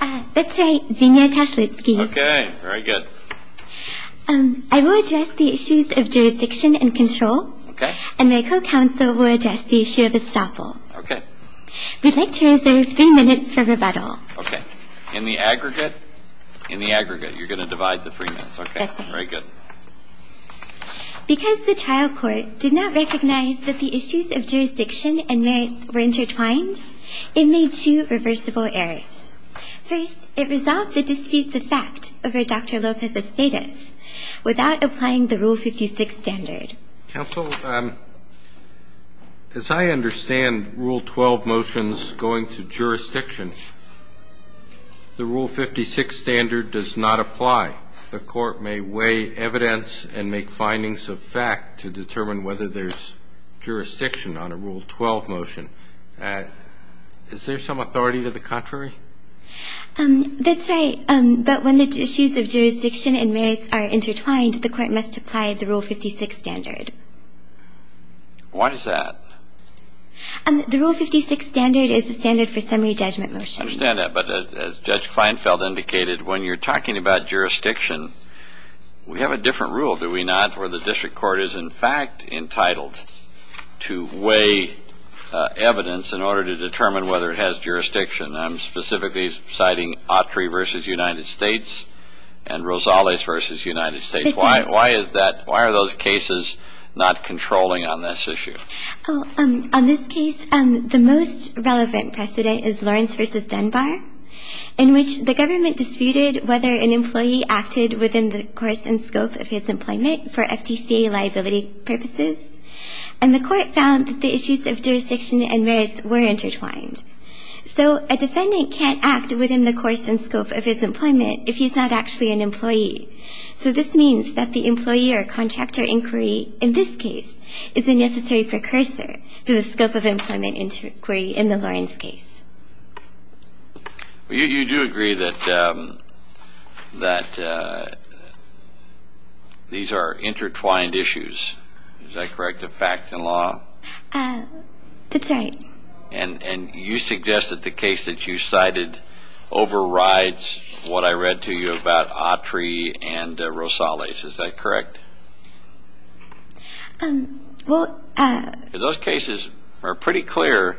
I will address the issues of jurisdiction and control, and my co-counsel will address the issue of estoppel. We'd like to reserve three minutes for rebuttal. Because the trial court did not recognize that the issues of jurisdiction and merits were intertwined, it made two reversible errors. First, it resolved the disputes of fact over Dr. Lopez's status without applying the Rule 56 standard. Roberts. Counsel, as I understand Rule 12 motions going to jurisdiction, the Rule 56 standard does not apply. The Court may weigh evidence and make findings of fact to determine whether there's jurisdiction on a Rule 12 motion. Is there some authority to the contrary? Kiskila. That's right. But when the issues of jurisdiction and merits are intertwined, the Court must apply the Rule 56 standard. Roberts. Why is that? Kiskila. The Rule 56 standard is the standard for summary judgment motions. Roberts. I understand that. But as Judge Kleinfeld indicated, when you're talking about jurisdiction, we have a different rule, do we not, where the district court is, in fact, entitled to weigh evidence in order to determine whether it has jurisdiction. I'm specifically citing Autry v. United States and Rosales v. United States. Why is that? Why are those cases not controlling on this issue? Kiskila. On this case, the most relevant precedent is Lawrence v. Dunbar, in which the government acted within the course and scope of his employment for FTCA liability purposes. And the Court found that the issues of jurisdiction and merits were intertwined. So a defendant can't act within the course and scope of his employment if he's not actually an employee. So this means that the employee or contractor inquiry in this case is a necessary precursor to the scope of employment inquiry in the Lawrence case. Well, you do agree that these are intertwined issues, is that correct, of facts and law? That's right. And you suggest that the case that you cited overrides what I read to you about Autry and Rosales, is that correct? Well... Those cases are pretty clear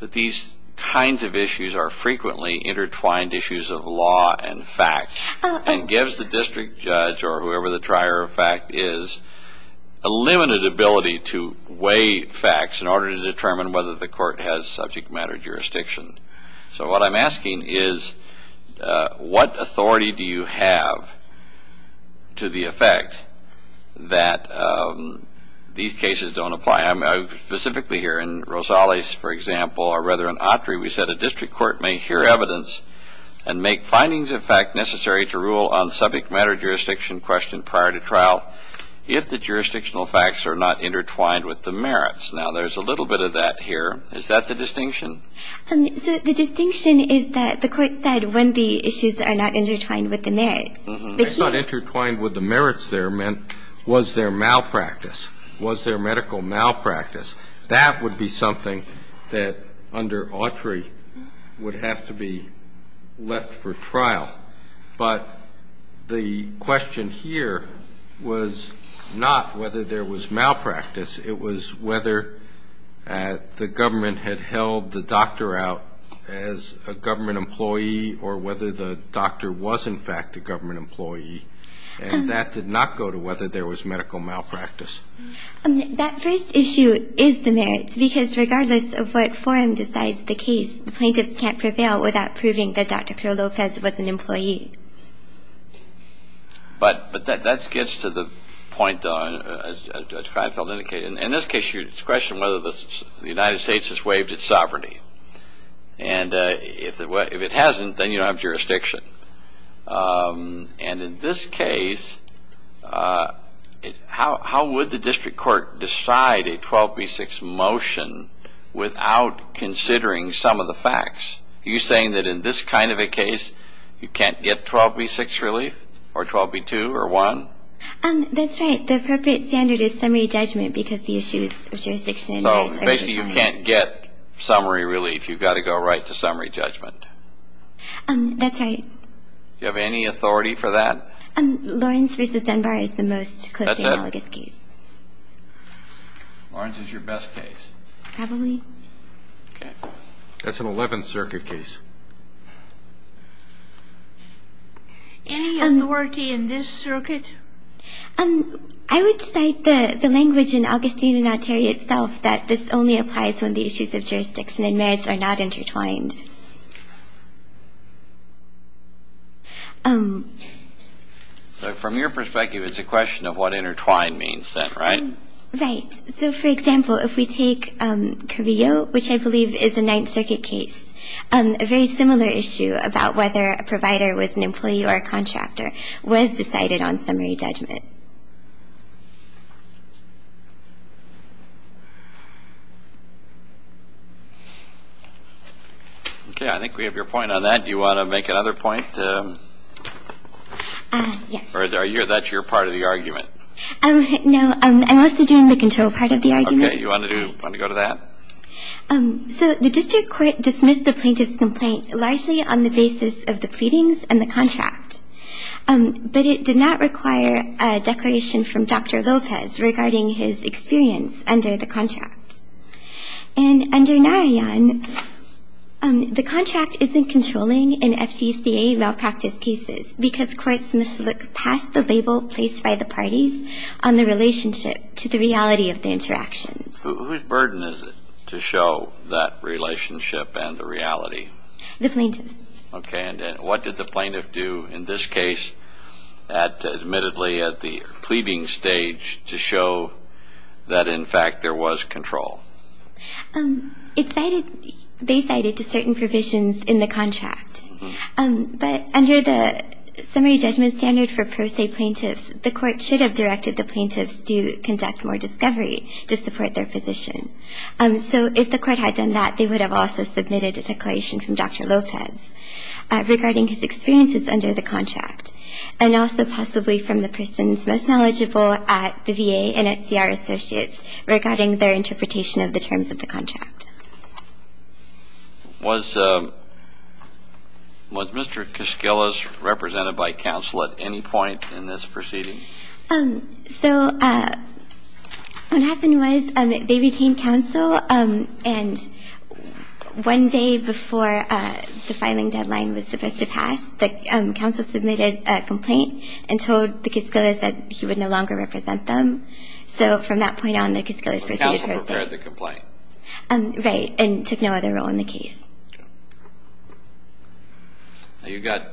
that these kinds of issues are frequently intertwined issues of law and facts and gives the district judge or whoever the trier of fact is a limited ability to weigh facts in order to determine whether the Court has subject matter jurisdiction. So what I'm asking is, what authority do you have to the effect that these cases don't apply? Specifically here in Rosales, for example, or rather in Autry, we said a district court may hear evidence and make findings of fact necessary to rule on subject matter jurisdiction question prior to trial if the jurisdictional facts are not intertwined with the merits. Now, there's a little bit of that here. Is that the distinction? The distinction is that the Court said when the issues are not intertwined with the merits. I thought intertwined with the merits there meant was there malpractice? Was there medical malpractice? That would be something that under Autry would have to be left for trial. But the question here was not whether there was malpractice. It was whether the government had held the doctor out as a government employee or whether the doctor was in fact a government employee. And that did not go to whether there was medical malpractice. That first issue is the merits, because regardless of what forum decides the case, the plaintiffs can't prevail without proving that Dr. Kirill Lopez was an employee. But that gets to the point, though, as Judge Feinfeld indicated. In this case, it's a question whether the United States has waived its sovereignty. And if it hasn't, then you don't have jurisdiction. And in this case, how would the district court decide a 12B6 motion without considering some of the facts? Are you saying that in this kind of a case, you can't get 12B6 relief or 12B2 or 1? That's right. The appropriate standard is summary judgment because the issues of jurisdiction are intertwined. So basically you can't get summary relief. You've got to go right to summary judgment. That's right. Do you have any authority for that? Lawrence v. Dunbar is the most closely analogous case. That's it? Lawrence is your best case? Probably. Okay. That's an Eleventh Circuit case. Any authority in this circuit? I would cite the language in Augustine and not Terry itself, that this only applies when the issues of jurisdiction and merits are not intertwined. From your perspective, it's a question of what intertwined means then, right? Right. So for example, if we take Carrillo, which I believe is a Ninth Circuit case, a very similar issue about whether a provider was an employee or a contractor was decided on summary judgment. Okay. I think we have your point on that. Do you want to make another point? Yes. Or that's your part of the argument? No. I'm also doing the control part of the argument. Okay. You want to go to that? So the district court dismissed the plaintiff's complaint largely on the basis of the pleadings and the contract. But it did not require a declaration from Dr. Lopez regarding his experience under the contract. And under Narayan, the contract isn't controlling in FTCA malpractice cases because courts must look past the label placed by the parties on the relationship to the reality of the interactions. Whose burden is it to show that relationship and the reality? The plaintiff's. Okay. And what did the plaintiff do in this case, admittedly at the pleading stage, to show that in fact there was control? They cited certain provisions in the contract. But under the summary judgment standard for pro se plaintiffs, the court should have directed the plaintiffs to conduct more discovery to support their position. So if the court had done that, they would have also submitted a declaration from Dr. Lopez regarding his experiences under the contract, and also possibly from the persons most knowledgeable at the VA and at CR Associates Was Mr. Kiskilas represented by counsel at any point in this proceeding? So what happened was they retained counsel. And one day before the filing deadline was supposed to pass, the counsel submitted a complaint and told the Kiskilas that he would no longer represent them. So from that point on, the Kiskilas proceeded personally. And prepared the complaint. Right, and took no other role in the case. You've got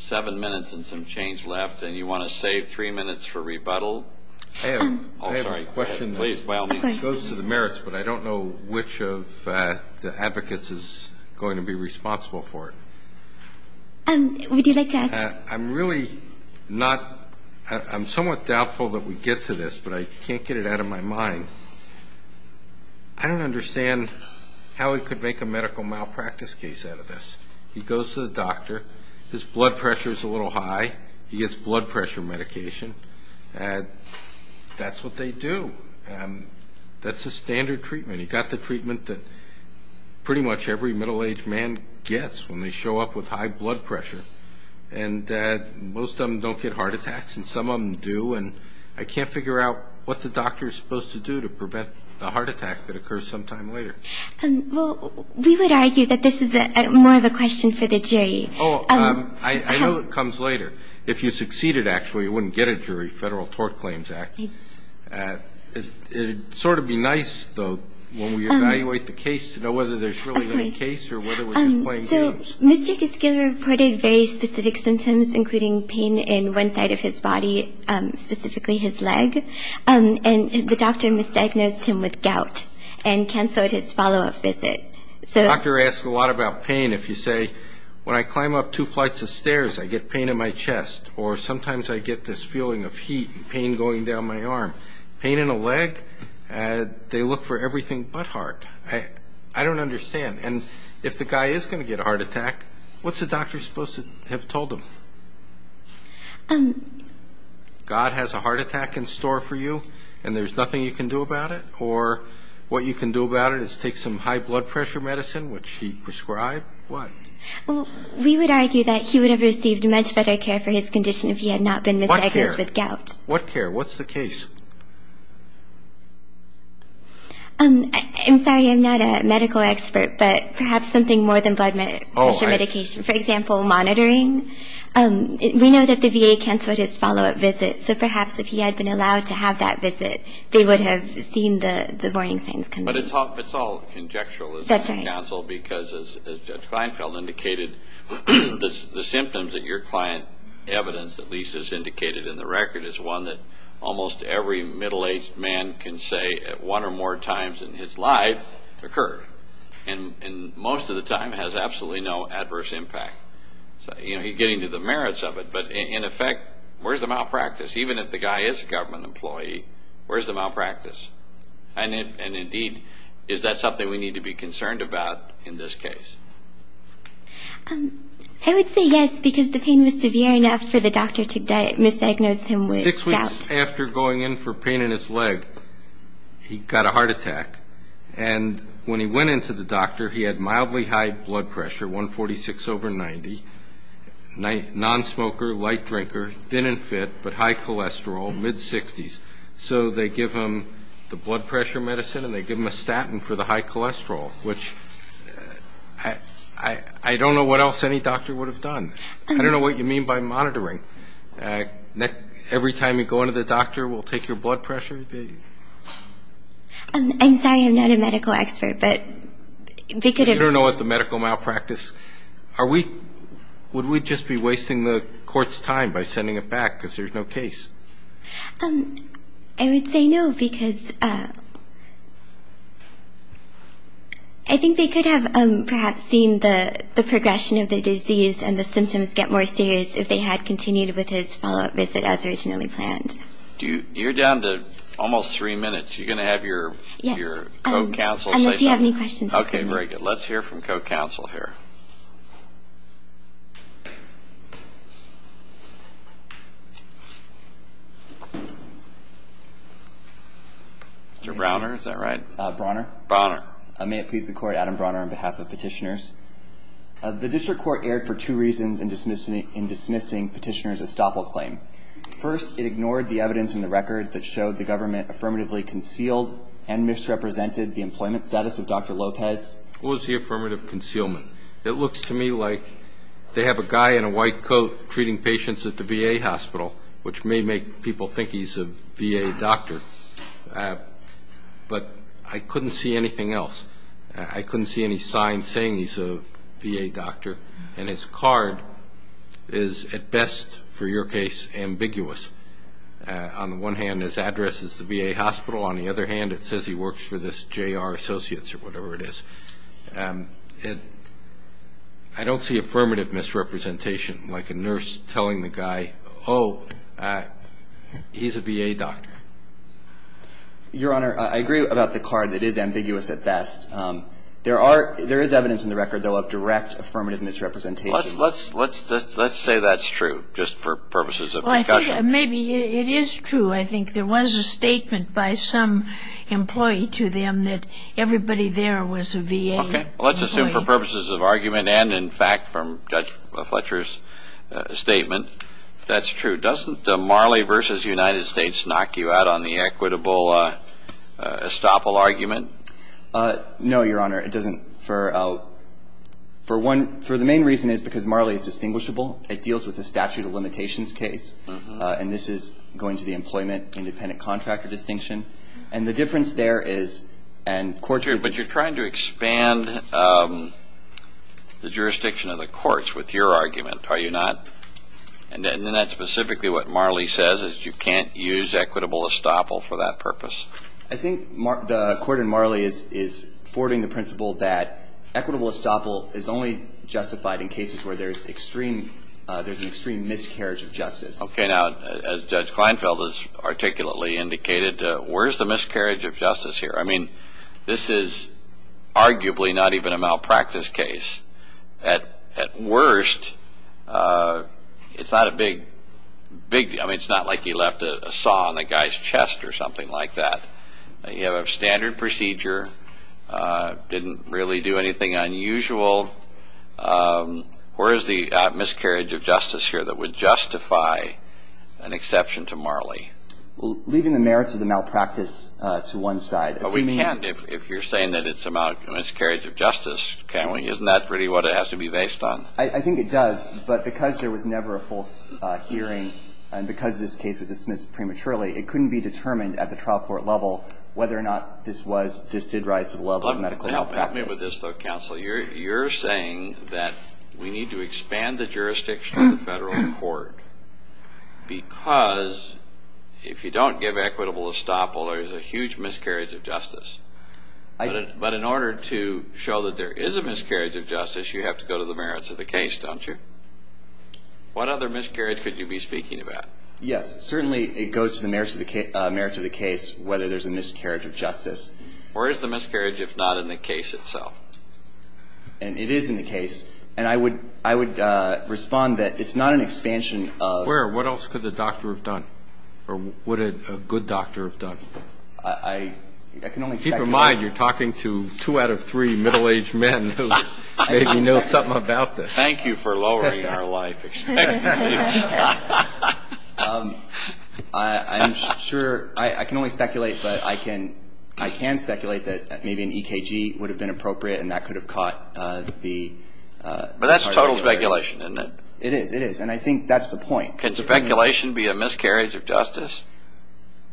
seven minutes and some change left, and you want to save three minutes for rebuttal? I have a question. Please, by all means. It goes to the merits, but I don't know which of the advocates is going to be responsible for it. Would you like to add? I'm really not, I'm somewhat doubtful that we get to this, but I can't get it out of my mind. I don't understand how he could make a medical malpractice case out of this. He goes to the doctor. His blood pressure is a little high. He gets blood pressure medication. That's what they do. That's the standard treatment. I mean, he got the treatment that pretty much every middle-aged man gets when they show up with high blood pressure. And most of them don't get heart attacks, and some of them do. And I can't figure out what the doctor is supposed to do to prevent the heart attack that occurs sometime later. Well, we would argue that this is more of a question for the jury. Oh, I know it comes later. If you succeeded, actually, you wouldn't get a jury, Federal Tort Claims Act. It would sort of be nice, though, when we evaluate the case, to know whether there's really any case or whether we're just playing games. So Mr. Giskiller reported very specific symptoms, including pain in one side of his body, specifically his leg. And the doctor misdiagnosed him with gout and canceled his follow-up visit. The doctor asked a lot about pain. If you say, when I climb up two flights of stairs, I get pain in my chest, or sometimes I get this feeling of heat and pain going down my arm. Pain in a leg? They look for everything but heart. I don't understand. And if the guy is going to get a heart attack, what's the doctor supposed to have told him? God has a heart attack in store for you and there's nothing you can do about it? Or what you can do about it is take some high blood pressure medicine, which he prescribed? What? We would argue that he would have received much better care for his condition if he had not been misdiagnosed with gout. What care? What's the case? I'm sorry, I'm not a medical expert, but perhaps something more than blood pressure medication. For example, monitoring. We know that the VA canceled his follow-up visit, so perhaps if he had been allowed to have that visit they would have seen the warning signs come up. But it's all conjectural. That's right. It's hard to counsel because, as Judge Feinfeld indicated, the symptoms that your client evidenced, at least as indicated in the record, is one that almost every middle-aged man can say at one or more times in his life occur. And most of the time it has absolutely no adverse impact. He's getting to the merits of it, but in effect, where's the malpractice? Even if the guy is a government employee, where's the malpractice? And, indeed, is that something we need to be concerned about in this case? I would say yes, because the pain was severe enough for the doctor to misdiagnose him with gout. Six weeks after going in for pain in his leg, he got a heart attack. And when he went in to the doctor, he had mildly high blood pressure, 146 over 90, non-smoker, light drinker, thin and fit, but high cholesterol, mid-60s. So they give him the blood pressure medicine and they give him a statin for the high cholesterol, which I don't know what else any doctor would have done. I don't know what you mean by monitoring. Every time you go into the doctor, we'll take your blood pressure? I'm sorry, I'm not a medical expert, but they could have been. You don't know what the medical malpractice. Would we just be wasting the court's time by sending it back because there's no case? I would say no, because I think they could have perhaps seen the progression of the disease and the symptoms get more serious if they had continued with his follow-up visit as originally planned. You're down to almost three minutes. You're going to have your co-counsel. Unless you have any questions. Okay, very good. Let's hear from co-counsel here. Mr. Brawner, is that right? Brawner. Brawner. May it please the court, Adam Brawner on behalf of petitioners. The district court erred for two reasons in dismissing petitioner's estoppel claim. First, it ignored the evidence in the record that showed the government affirmatively concealed and misrepresented the employment status of Dr. Lopez. What was the affirmative concealment? It looks to me like they have a guy in a white coat treating patients at the VA hospital, which may make people think he's a VA doctor, but I couldn't see anything else. I couldn't see any signs saying he's a VA doctor, and his card is at best, for your case, ambiguous. On the one hand, his address is the VA hospital. On the other hand, it says he works for this J.R. Associates or whatever it is. I don't see affirmative misrepresentation, like a nurse telling the guy, oh, he's a VA doctor. Your Honor, I agree about the card. It is ambiguous at best. There is evidence in the record, though, of direct affirmative misrepresentation. Let's say that's true, just for purposes of discussion. Well, I think maybe it is true. I think there was a statement by some employee to them that everybody there was a VA employee. Okay. Well, let's assume for purposes of argument and, in fact, from Judge Fletcher's statement, that's true. Doesn't Marley v. United States knock you out on the equitable estoppel argument? No, Your Honor, it doesn't. For one, the main reason is because Marley is distinguishable. It deals with the statute of limitations case. And this is going to the employment independent contractor distinction. And the difference there is, and the court thinks ---- But you're trying to expand the jurisdiction of the courts with your argument, are you not? And then that's specifically what Marley says, is you can't use equitable estoppel for that purpose. I think the court in Marley is forwarding the principle that equitable estoppel is only justified in cases where there's an extreme miscarriage of justice. Okay. Now, as Judge Kleinfeld has articulately indicated, where is the miscarriage of justice here? I mean, this is arguably not even a malpractice case. At worst, it's not a big deal. I mean, it's not like he left a saw in the guy's chest or something like that. You have a standard procedure, didn't really do anything unusual. Where is the miscarriage of justice here that would justify an exception to Marley? Well, leaving the merits of the malpractice to one side. But we can't, if you're saying that it's a miscarriage of justice, can we? Isn't that really what it has to be based on? I think it does. But because there was never a full hearing and because this case was dismissed prematurely, it couldn't be determined at the trial court level whether or not this did rise to the level of medical malpractice. Help me with this, though, counsel. You're saying that we need to expand the jurisdiction of the federal court because if you don't give equitable estoppel, there's a huge miscarriage of justice. But in order to show that there is a miscarriage of justice, you have to go to the merits of the case, don't you? What other miscarriage could you be speaking about? Yes. Certainly it goes to the merits of the case whether there's a miscarriage of justice. Where is the miscarriage if not in the case itself? And it is in the case. And I would respond that it's not an expansion of Where? What else could the doctor have done or would a good doctor have done? I can only expect Keep in mind you're talking to two out of three middle-aged men who maybe know something about this. Thank you for lowering our life expectancy. I'm sure I can only speculate, but I can speculate that maybe an EKG would have been appropriate and that could have caught the But that's total speculation, isn't it? It is. It is. And I think that's the point. Can speculation be a miscarriage of justice?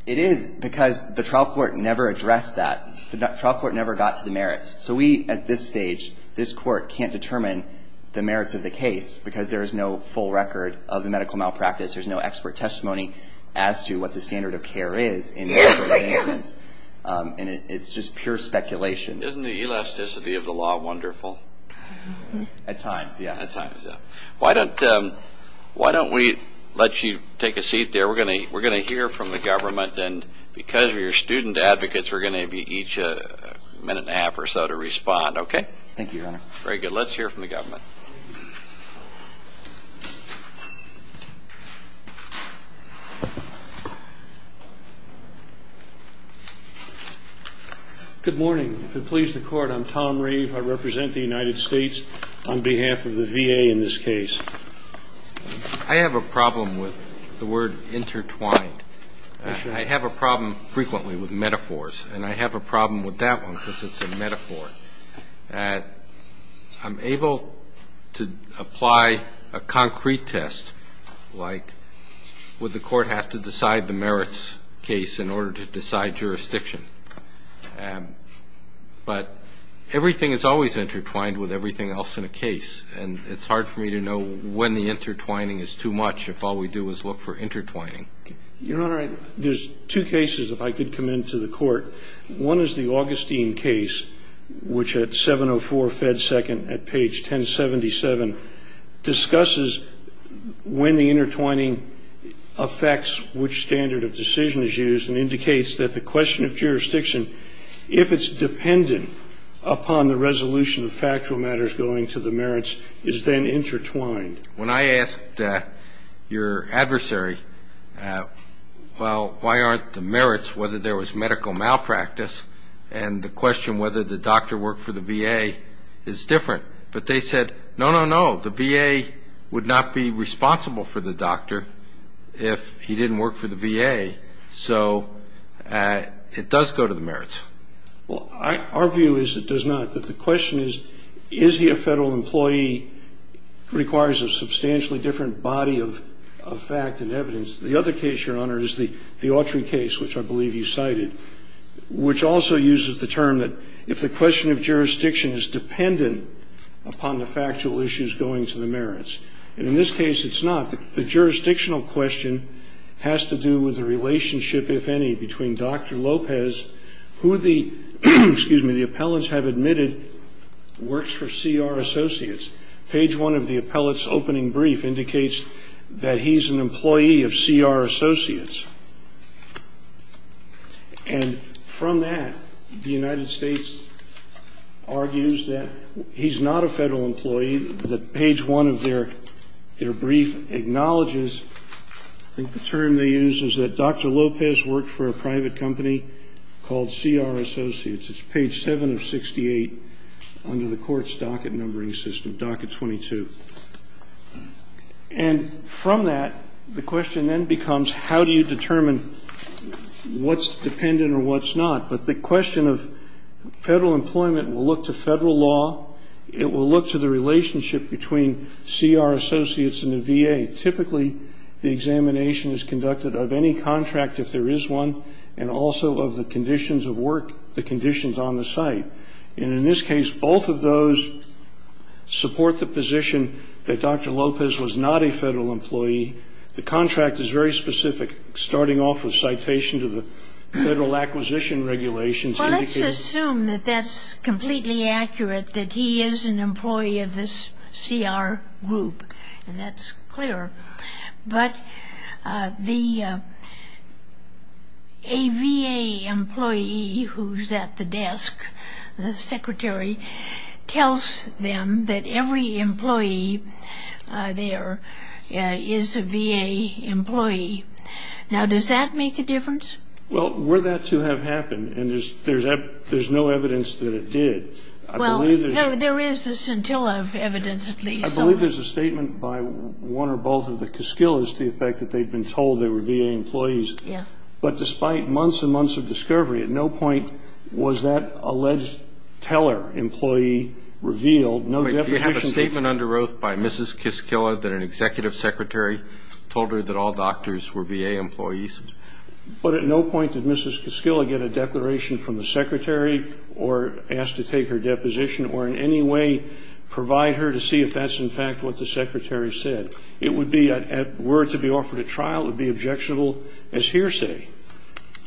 It is because the trial court never addressed that. The trial court never got to the merits. So we at this stage, this court can't determine the merits of the case because there is no full record of the medical malpractice. There's no expert testimony as to what the standard of care is in that instance. And it's just pure speculation. Isn't the elasticity of the law wonderful? At times, yes. At times, yes. Why don't we let you take a seat there? We're going to hear from the government. And because you're student advocates, we're going to give you each a minute and a half or so to respond. Okay? Thank you, Your Honor. Very good. Let's hear from the government. Good morning. If it pleases the Court, I'm Tom Reeve. I represent the United States on behalf of the VA in this case. I have a problem with the word intertwined. I have a problem frequently with metaphors, and I have a problem with that one because it's a metaphor. I'm able to apply a concrete test, like would the Court have to decide the merits case in order to decide jurisdiction. But everything is always intertwined with everything else in a case, and it's hard for me to know when the intertwining is too much if all we do is look for intertwining. Your Honor, there's two cases, if I could come into the Court. One is the Augustine case, which at 704 Fed 2nd at page 1077 discusses when the intertwining affects which standard of decision is used and indicates that the question of jurisdiction, if it's dependent upon the resolution of factual matters going to the merits, is then intertwined. When I asked your adversary, well, why aren't the merits, whether there was medical malpractice, and the question whether the doctor worked for the VA is different. But they said, no, no, no, the VA would not be responsible for the doctor if he didn't work for the VA. Well, our view is it does not. The question is, is he a Federal employee requires a substantially different body of fact and evidence. The other case, Your Honor, is the Autry case, which I believe you cited, which also uses the term that if the question of jurisdiction is dependent upon the factual issues going to the merits, and in this case it's not. The jurisdictional question has to do with the relationship, if any, between Dr. Lopez, who the appellants have admitted works for CR Associates. Page 1 of the appellant's opening brief indicates that he's an employee of CR Associates. And from that, the United States argues that he's not a Federal employee, that page 1 of their brief acknowledges. I think the term they use is that Dr. Lopez worked for a private company called CR Associates. It's page 7 of 68 under the court's docket numbering system, docket 22. And from that, the question then becomes how do you determine what's dependent or what's not. But the question of Federal employment will look to Federal law. It will look to the relationship between CR Associates and the VA. Typically, the examination is conducted of any contract, if there is one, and also of the conditions of work, the conditions on the site. And in this case, both of those support the position that Dr. Lopez was not a Federal employee. The contract is very specific, starting off with citation to the Federal acquisition regulations. Well, let's assume that that's completely accurate, that he is an employee of this CR group, and that's clear. But the VA employee who's at the desk, the secretary, tells them that every employee there is a VA employee. Now, does that make a difference? Well, were that to have happened, and there's no evidence that it did, I believe there's Well, there is a scintilla of evidence, at least. I believe there's a statement by one or both of the Kiskillas to the effect that they've been told they were VA employees. Yeah. But despite months and months of discovery, at no point was that alleged teller employee revealed. No deposition. Wait. Do you have a statement under oath by Mrs. Kiskilla that an executive secretary told her that all doctors were VA employees? No. But at no point did Mrs. Kiskilla get a declaration from the secretary or ask to take her deposition or in any way provide her to see if that's, in fact, what the secretary said. It would be, were it to be offered at trial, it would be objectionable as hearsay.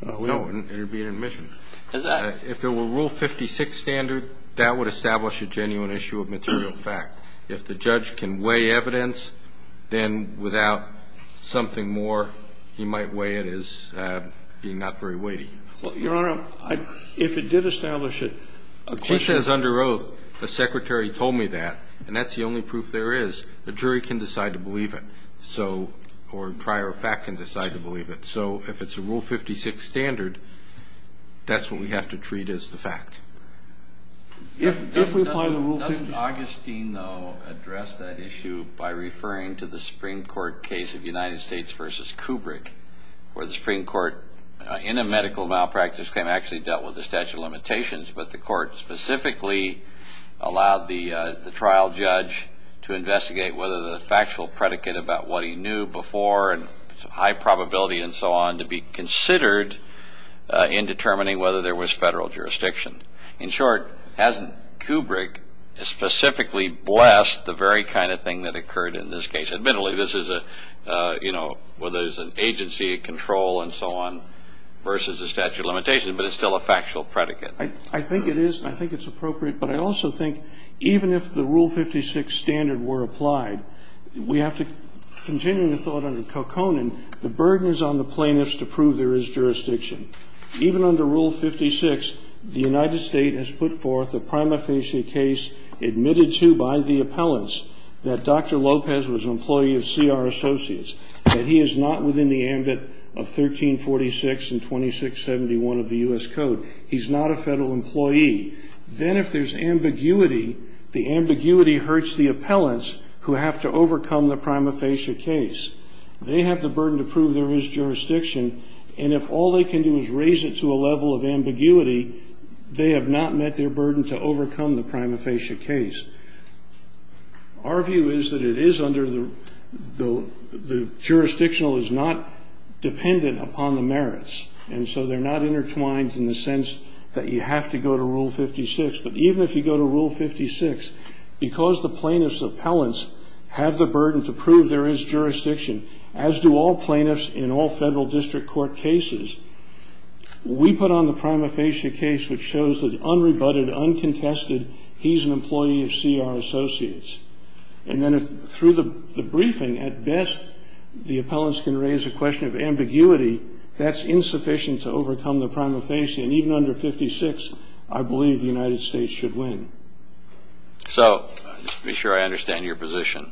No, it would be an admission. If it were Rule 56 standard, that would establish a genuine issue of material fact. If the judge can weigh evidence, then without something more, he might weigh it as being not very weighty. Well, Your Honor, if it did establish a question She says under oath, the secretary told me that, and that's the only proof there is. A jury can decide to believe it. So, or prior fact can decide to believe it. So if it's a Rule 56 standard, that's what we have to treat as the fact. If we apply the Rule 56 Augustine, though, addressed that issue by referring to the Supreme Court case of United States versus Kubrick, where the Supreme Court, in a medical malpractice claim, actually dealt with the statute of limitations, but the court specifically allowed the trial judge to investigate whether the factual predicate about what he knew before and high probability and so on to be considered in determining whether there was federal jurisdiction. In short, hasn't Kubrick specifically blessed the very kind of thing that occurred in this case? Admittedly, this is a, you know, whether there's an agency, a control and so on versus a statute of limitations, but it's still a factual predicate. I think it is. I think it's appropriate. But I also think even if the Rule 56 standard were applied, we have to continue the thought under Kokkonen, the burden is on the plaintiffs to prove there is jurisdiction. Even under Rule 56, the United States has put forth a prima facie case admitted to by the appellants that Dr. Lopez was an employee of CR Associates, that he is not within the ambit of 1346 and 2671 of the U.S. Code. He's not a federal employee. Then if there's ambiguity, the ambiguity hurts the appellants who have to overcome the prima facie case. They have the burden to prove there is jurisdiction, and if all they can do is raise it to a level of ambiguity, they have not met their burden to overcome the prima facie case. Our view is that it is under the jurisdictional is not dependent upon the merits, and so they're not intertwined in the sense that you have to go to Rule 56. But even if you go to Rule 56, because the plaintiffs' appellants have the burden to prove there is jurisdiction, as do all plaintiffs in all federal district court cases, we put on the prima facie case which shows that unrebutted, uncontested, he's an employee of CR Associates. And then through the briefing, at best, the appellants can raise a question of ambiguity. That's insufficient to overcome the prima facie, and even under 56, I believe the United States should win. So just to be sure I understand your position,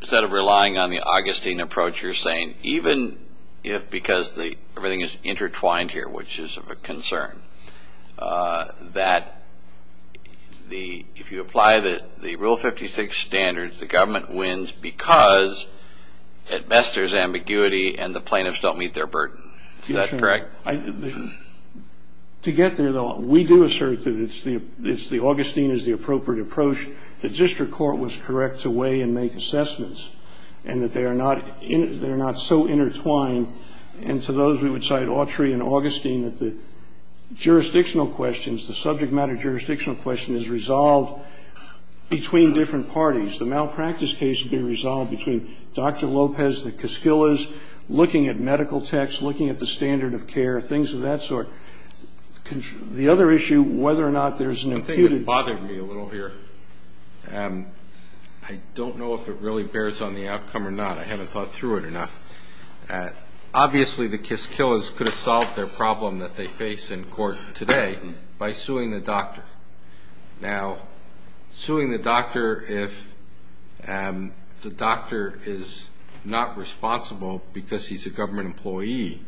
instead of relying on the Augustine approach, you're saying even if because everything is intertwined here, which is of a concern, that if you apply the Rule 56 standards, the government wins because at best there's ambiguity and the plaintiffs don't meet their burden. Is that correct? To get there, though, we do assert that Augustine is the appropriate approach. The district court was correct to weigh and make assessments and that they are not so intertwined. And to those, we would cite Autry and Augustine that the jurisdictional questions, the subject matter jurisdictional question is resolved between different parties. The malpractice case would be resolved between Dr. Lopez, the Koskillas, looking at medical texts, looking at the standard of care, things of that sort. The other issue, whether or not there's an imputed. I think it bothered me a little here. I don't know if it really bears on the outcome or not. I haven't thought through it enough. Obviously, the Koskillas could have solved their problem that they face in court today by suing the doctor. Now, suing the doctor if the doctor is not responsible because he's a government employee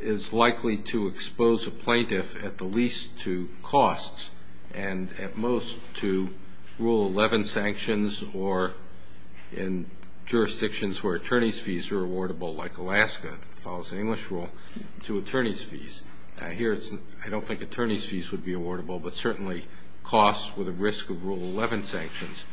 is likely to expose a plaintiff at the least to costs and at most to Rule 11 sanctions or in jurisdictions where attorney's fees are awardable, like Alaska that follows the English rule, to attorney's fees. Here, I don't think attorney's fees would be awardable, but certainly costs with a risk of Rule 11 sanctions.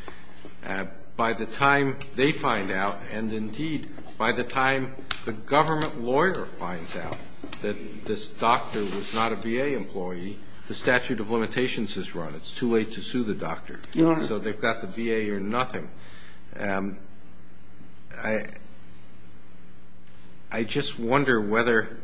By the time they find out and, indeed, by the time the government lawyer finds out that this doctor was not a VA employee, the statute of limitations is run. It's too late to sue the doctor. So they've got the VA or nothing. I just wonder whether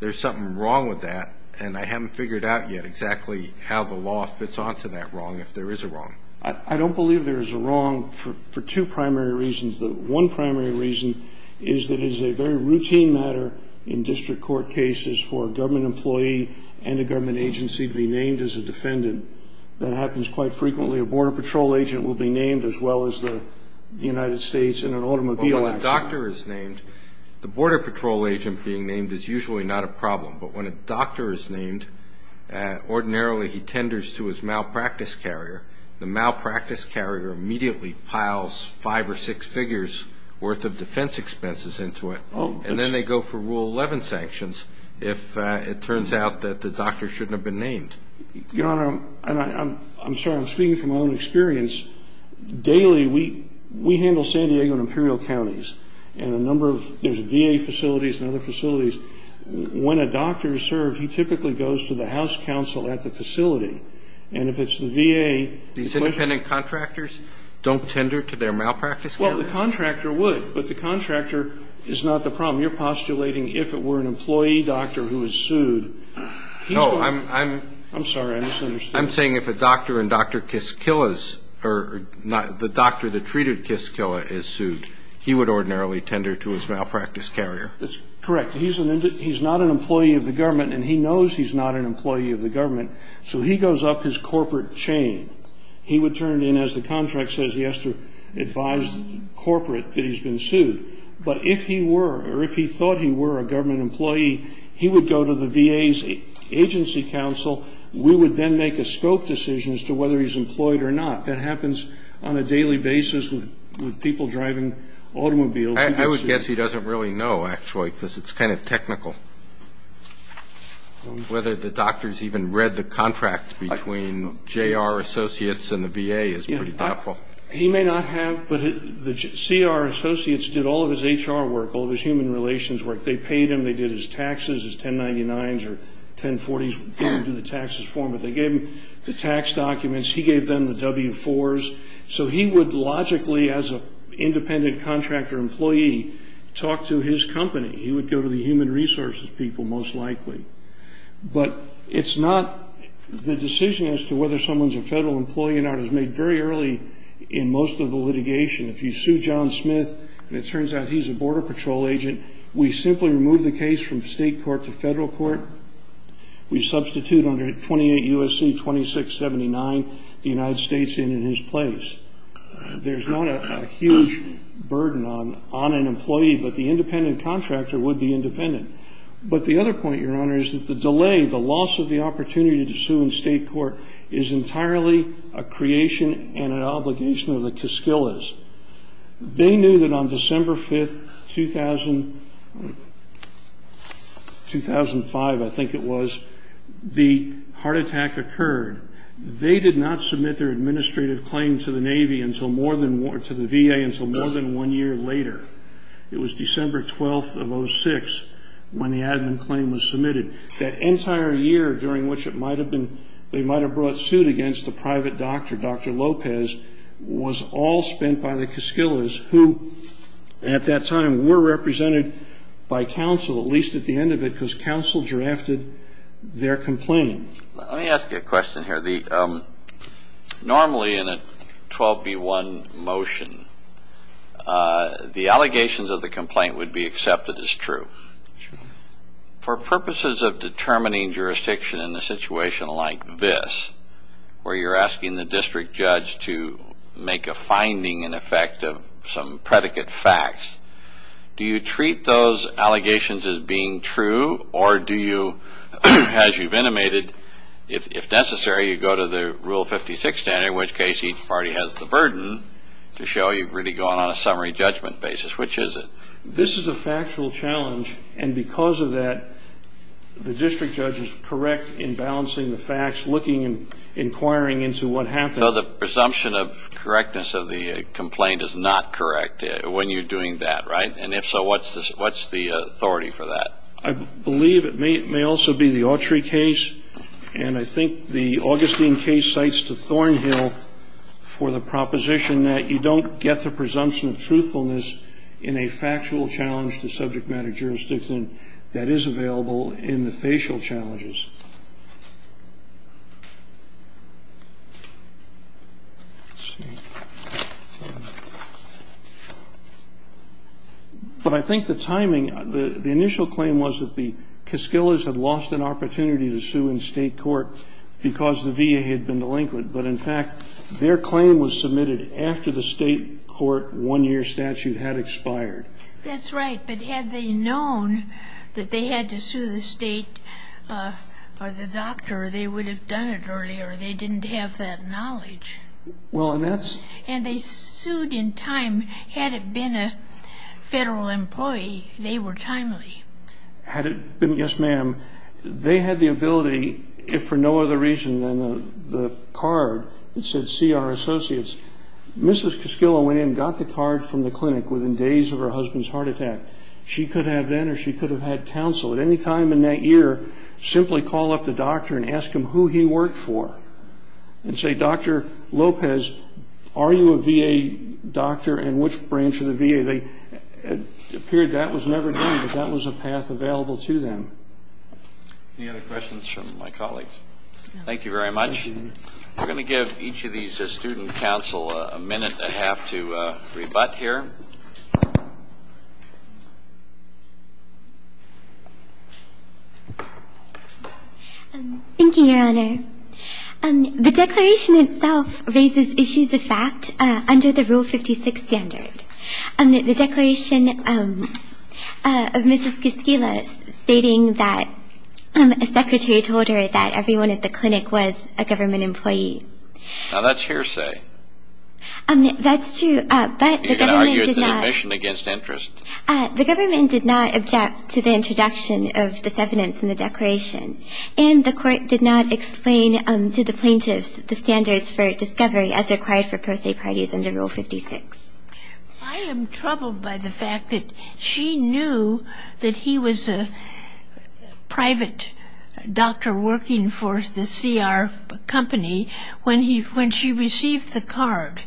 there's something wrong with that, and I haven't figured out yet exactly how the law fits onto that wrong, if there is a wrong. I don't believe there is a wrong for two primary reasons. The one primary reason is that it is a very routine matter in district court cases for a government employee and a government agency to be named as a defendant. That happens quite frequently. A Border Patrol agent will be named as well as the United States in an automobile accident. Well, when a doctor is named, the Border Patrol agent being named is usually not a problem, but when a doctor is named, ordinarily he tenders to his malpractice carrier. The malpractice carrier immediately piles five or six figures worth of defense expenses into it, and then they go for Rule 11 sanctions if it turns out that the doctor shouldn't have been named. Your Honor, I'm sorry. I'm speaking from my own experience. Daily, we handle San Diego and Imperial counties, and there's VA facilities and other facilities. When a doctor is served, he typically goes to the house counsel at the facility. And if it's the VA ---- These independent contractors don't tender to their malpractice carriers? Well, the contractor would, but the contractor is not the problem. You're postulating if it were an employee doctor who was sued, he's going to ---- No, I'm ---- I'm sorry. I misunderstood. I'm saying if a doctor and Dr. Kiskila's or the doctor that treated Kiskila is sued, he would ordinarily tender to his malpractice carrier. That's correct. He's not an employee of the government, and he knows he's not an employee of the government. So he goes up his corporate chain. He would turn in, as the contract says, he has to advise the corporate that he's been sued. But if he were or if he thought he were a government employee, he would go to the VA's agency counsel. We would then make a scope decision as to whether he's employed or not. That happens on a daily basis with people driving automobiles. I would guess he doesn't really know, actually, because it's kind of technical. Whether the doctors even read the contract between J.R. Associates and the VA is pretty doubtful. He may not have, but the C.R. Associates did all of his H.R. work, all of his human relations work. They paid him. They did his taxes, his 1099s or 1040s. They didn't do the taxes for him, but they gave him the tax documents. He gave them the W-4s. So he would logically, as an independent contractor employee, talk to his company. He would go to the human resources people most likely. But it's not the decision as to whether someone's a federal employee or not is made very early in most of the litigation. If you sue John Smith and it turns out he's a border patrol agent, we simply remove the case from state court to federal court. We substitute under 28 U.S.C. 2679 the United States in his place. There's not a huge burden on an employee, but the independent contractor would be independent. But the other point, Your Honor, is that the delay, the loss of the opportunity to sue in state court, is entirely a creation and an obligation of the casquillas. They knew that on December 5th, 2005, I think it was, the heart attack occurred. They did not submit their administrative claim to the Navy, to the VA, until more than one year later. It was December 12th of 06 when the admin claim was submitted. That entire year during which they might have brought suit against the private doctor, Dr. Lopez, was all spent by the casquillas, who at that time were represented by counsel, at least at the end of it, because counsel drafted their complaint. Let me ask you a question here. Normally in a 12B1 motion, the allegations of the complaint would be accepted as true. For purposes of determining jurisdiction in a situation like this, where you're asking the district judge to make a finding in effect of some predicate facts, do you treat those allegations as being true? Or do you, as you've intimated, if necessary, you go to the Rule 56 standard, in which case each party has the burden to show you've really gone on a summary judgment basis. Which is it? This is a factual challenge, and because of that, the district judge is correct in balancing the facts, looking and inquiring into what happened. So the presumption of correctness of the complaint is not correct when you're doing that, right? And if so, what's the authority for that? I believe it may also be the Autry case. And I think the Augustine case cites to Thornhill for the proposition that you don't get the presumption of truthfulness in a factual challenge to subject matter jurisdiction that is available in the facial challenges. But I think the timing, the initial claim was that the Kaskillas had lost an opportunity to sue in state court because the VA had been delinquent. But in fact, their claim was submitted after the state court one-year statute had expired. That's right. But had they known that they had to sue the state or the doctor, they would have done it earlier. They didn't have that knowledge. Well, and that's... And they sued in time. Had it been a federal employee, they were timely. Had it been... Yes, ma'am. They had the ability, if for no other reason than the card that said CR Associates. Mrs. Kaskilla went in and got the card from the clinic within days of her husband's heart attack. She could have then or she could have had counsel. At any time in that year, simply call up the doctor and ask him who he worked for and say, Dr. Lopez, are you a VA doctor and which branch of the VA? It appeared that was never done, but that was a path available to them. Any other questions from my colleagues? No. Thank you very much. We're going to give each of these student counsel a minute and a half to rebut here. Thank you, Your Honor. The declaration itself raises issues of fact under the Rule 56 standard. The declaration of Mrs. Kaskilla stating that a secretary told her that everyone at the clinic was a government employee. Now, that's hearsay. That's true, but the government did not... You're going to argue it's an admission against interest. The government did not object to the introduction of this evidence in the declaration, and the court did not explain to the plaintiffs the standards for discovery as required for pro se parties under Rule 56. I am troubled by the fact that she knew that he was a private doctor working for the CR company when she received the card,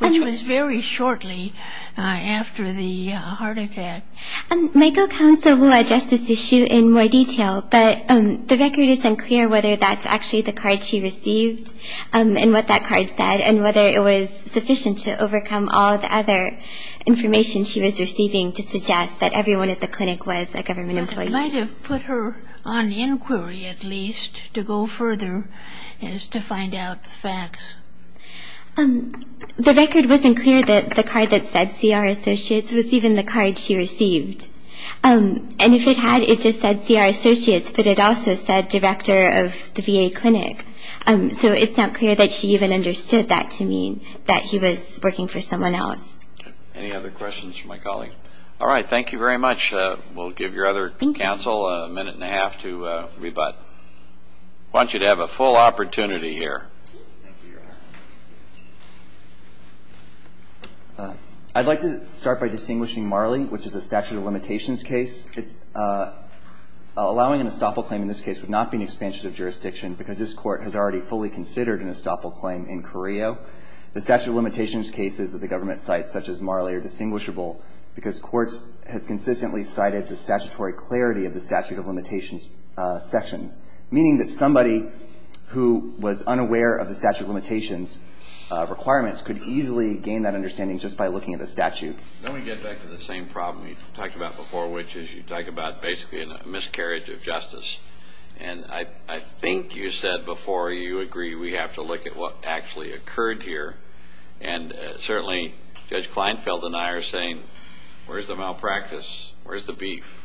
which was very shortly after the heart attack. My co-counsel will address this issue in more detail, but the record is unclear whether that's actually the card she received and what that card said and whether it was sufficient to overcome all the other information she was receiving to suggest that everyone at the clinic was a government employee. It might have put her on inquiry, at least, to go further as to find out the facts. The record wasn't clear that the card that said CR Associates was even the card she received, and if it had, it just said CR Associates, but it also said director of the VA clinic, so it's not clear that she even understood that to mean that he was working for someone else. Any other questions for my colleague? All right, thank you very much. We'll give your other counsel a minute and a half to rebut. I want you to have a full opportunity here. Thank you, Your Honor. I'd like to start by distinguishing Marley, which is a statute of limitations case. Allowing an estoppel claim in this case would not be an expansion of jurisdiction because this Court has already fully considered an estoppel claim in Carrillo. The statute of limitations cases that the government cites, such as Marley, are distinguishable because courts have consistently cited the statutory clarity of the statute of limitations sections, meaning that somebody who was unaware of the statute of limitations requirements could easily gain that understanding just by looking at the statute. Let me get back to the same problem you talked about before, which is you talk about basically a miscarriage of justice, and I think you said before you agree we have to look at what actually occurred here, and certainly Judge Kleinfeld and I are saying where's the malpractice? Where's the beef?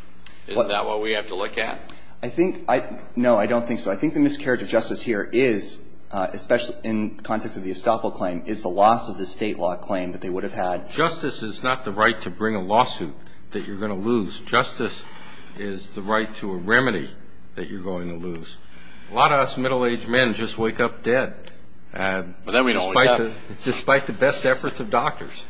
Isn't that what we have to look at? I think no, I don't think so. I think the miscarriage of justice here is, especially in the context of the estoppel claim, is the loss of the state law claim that they would have had. Justice is not the right to bring a lawsuit that you're going to lose. Justice is the right to a remedy that you're going to lose. A lot of us middle-aged men just wake up dead. But then we don't wake up. Despite the best efforts of doctors.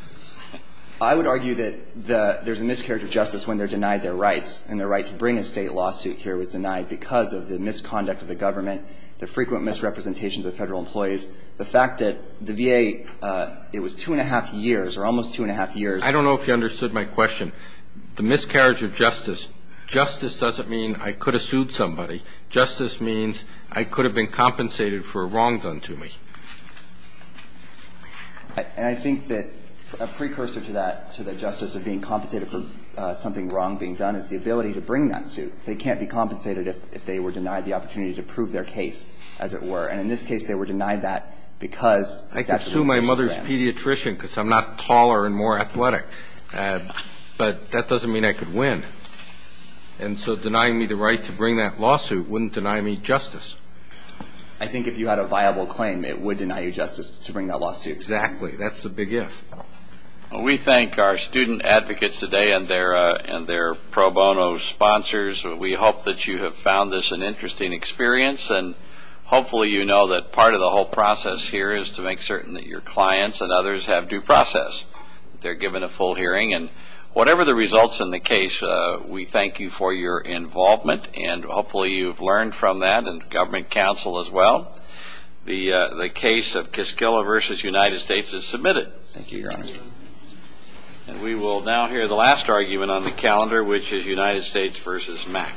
I would argue that there's a miscarriage of justice when they're denied their rights and their right to bring a state lawsuit here was denied because of the misconduct of the government, the frequent misrepresentations of Federal employees, the fact that the VA, it was two and a half years or almost two and a half years. I don't know if you understood my question. The miscarriage of justice, justice doesn't mean I could have sued somebody. Justice means I could have been compensated for a wrong done to me. And I think that a precursor to that, to the justice of being compensated for something wrong being done is the ability to bring that suit. They can't be compensated if they were denied the opportunity to prove their case, as it were. And in this case, they were denied that because the statute of limitations ran. I could sue my mother's pediatrician because I'm not taller and more athletic. But that doesn't mean I could win. And so denying me the right to bring that lawsuit wouldn't deny me justice. I think if you had a viable claim, it would deny you justice to bring that lawsuit. Exactly. That's the big if. We thank our student advocates today and their pro bono sponsors. We hope that you have found this an interesting experience. And hopefully you know that part of the whole process here is to make certain that your clients and others have due process. They're given a full hearing. And whatever the results in the case, we thank you for your involvement. And hopefully you've learned from that and government counsel as well. Thank you, Your Honor. And we will now hear the last argument on the calendar, which is United States v. MAC.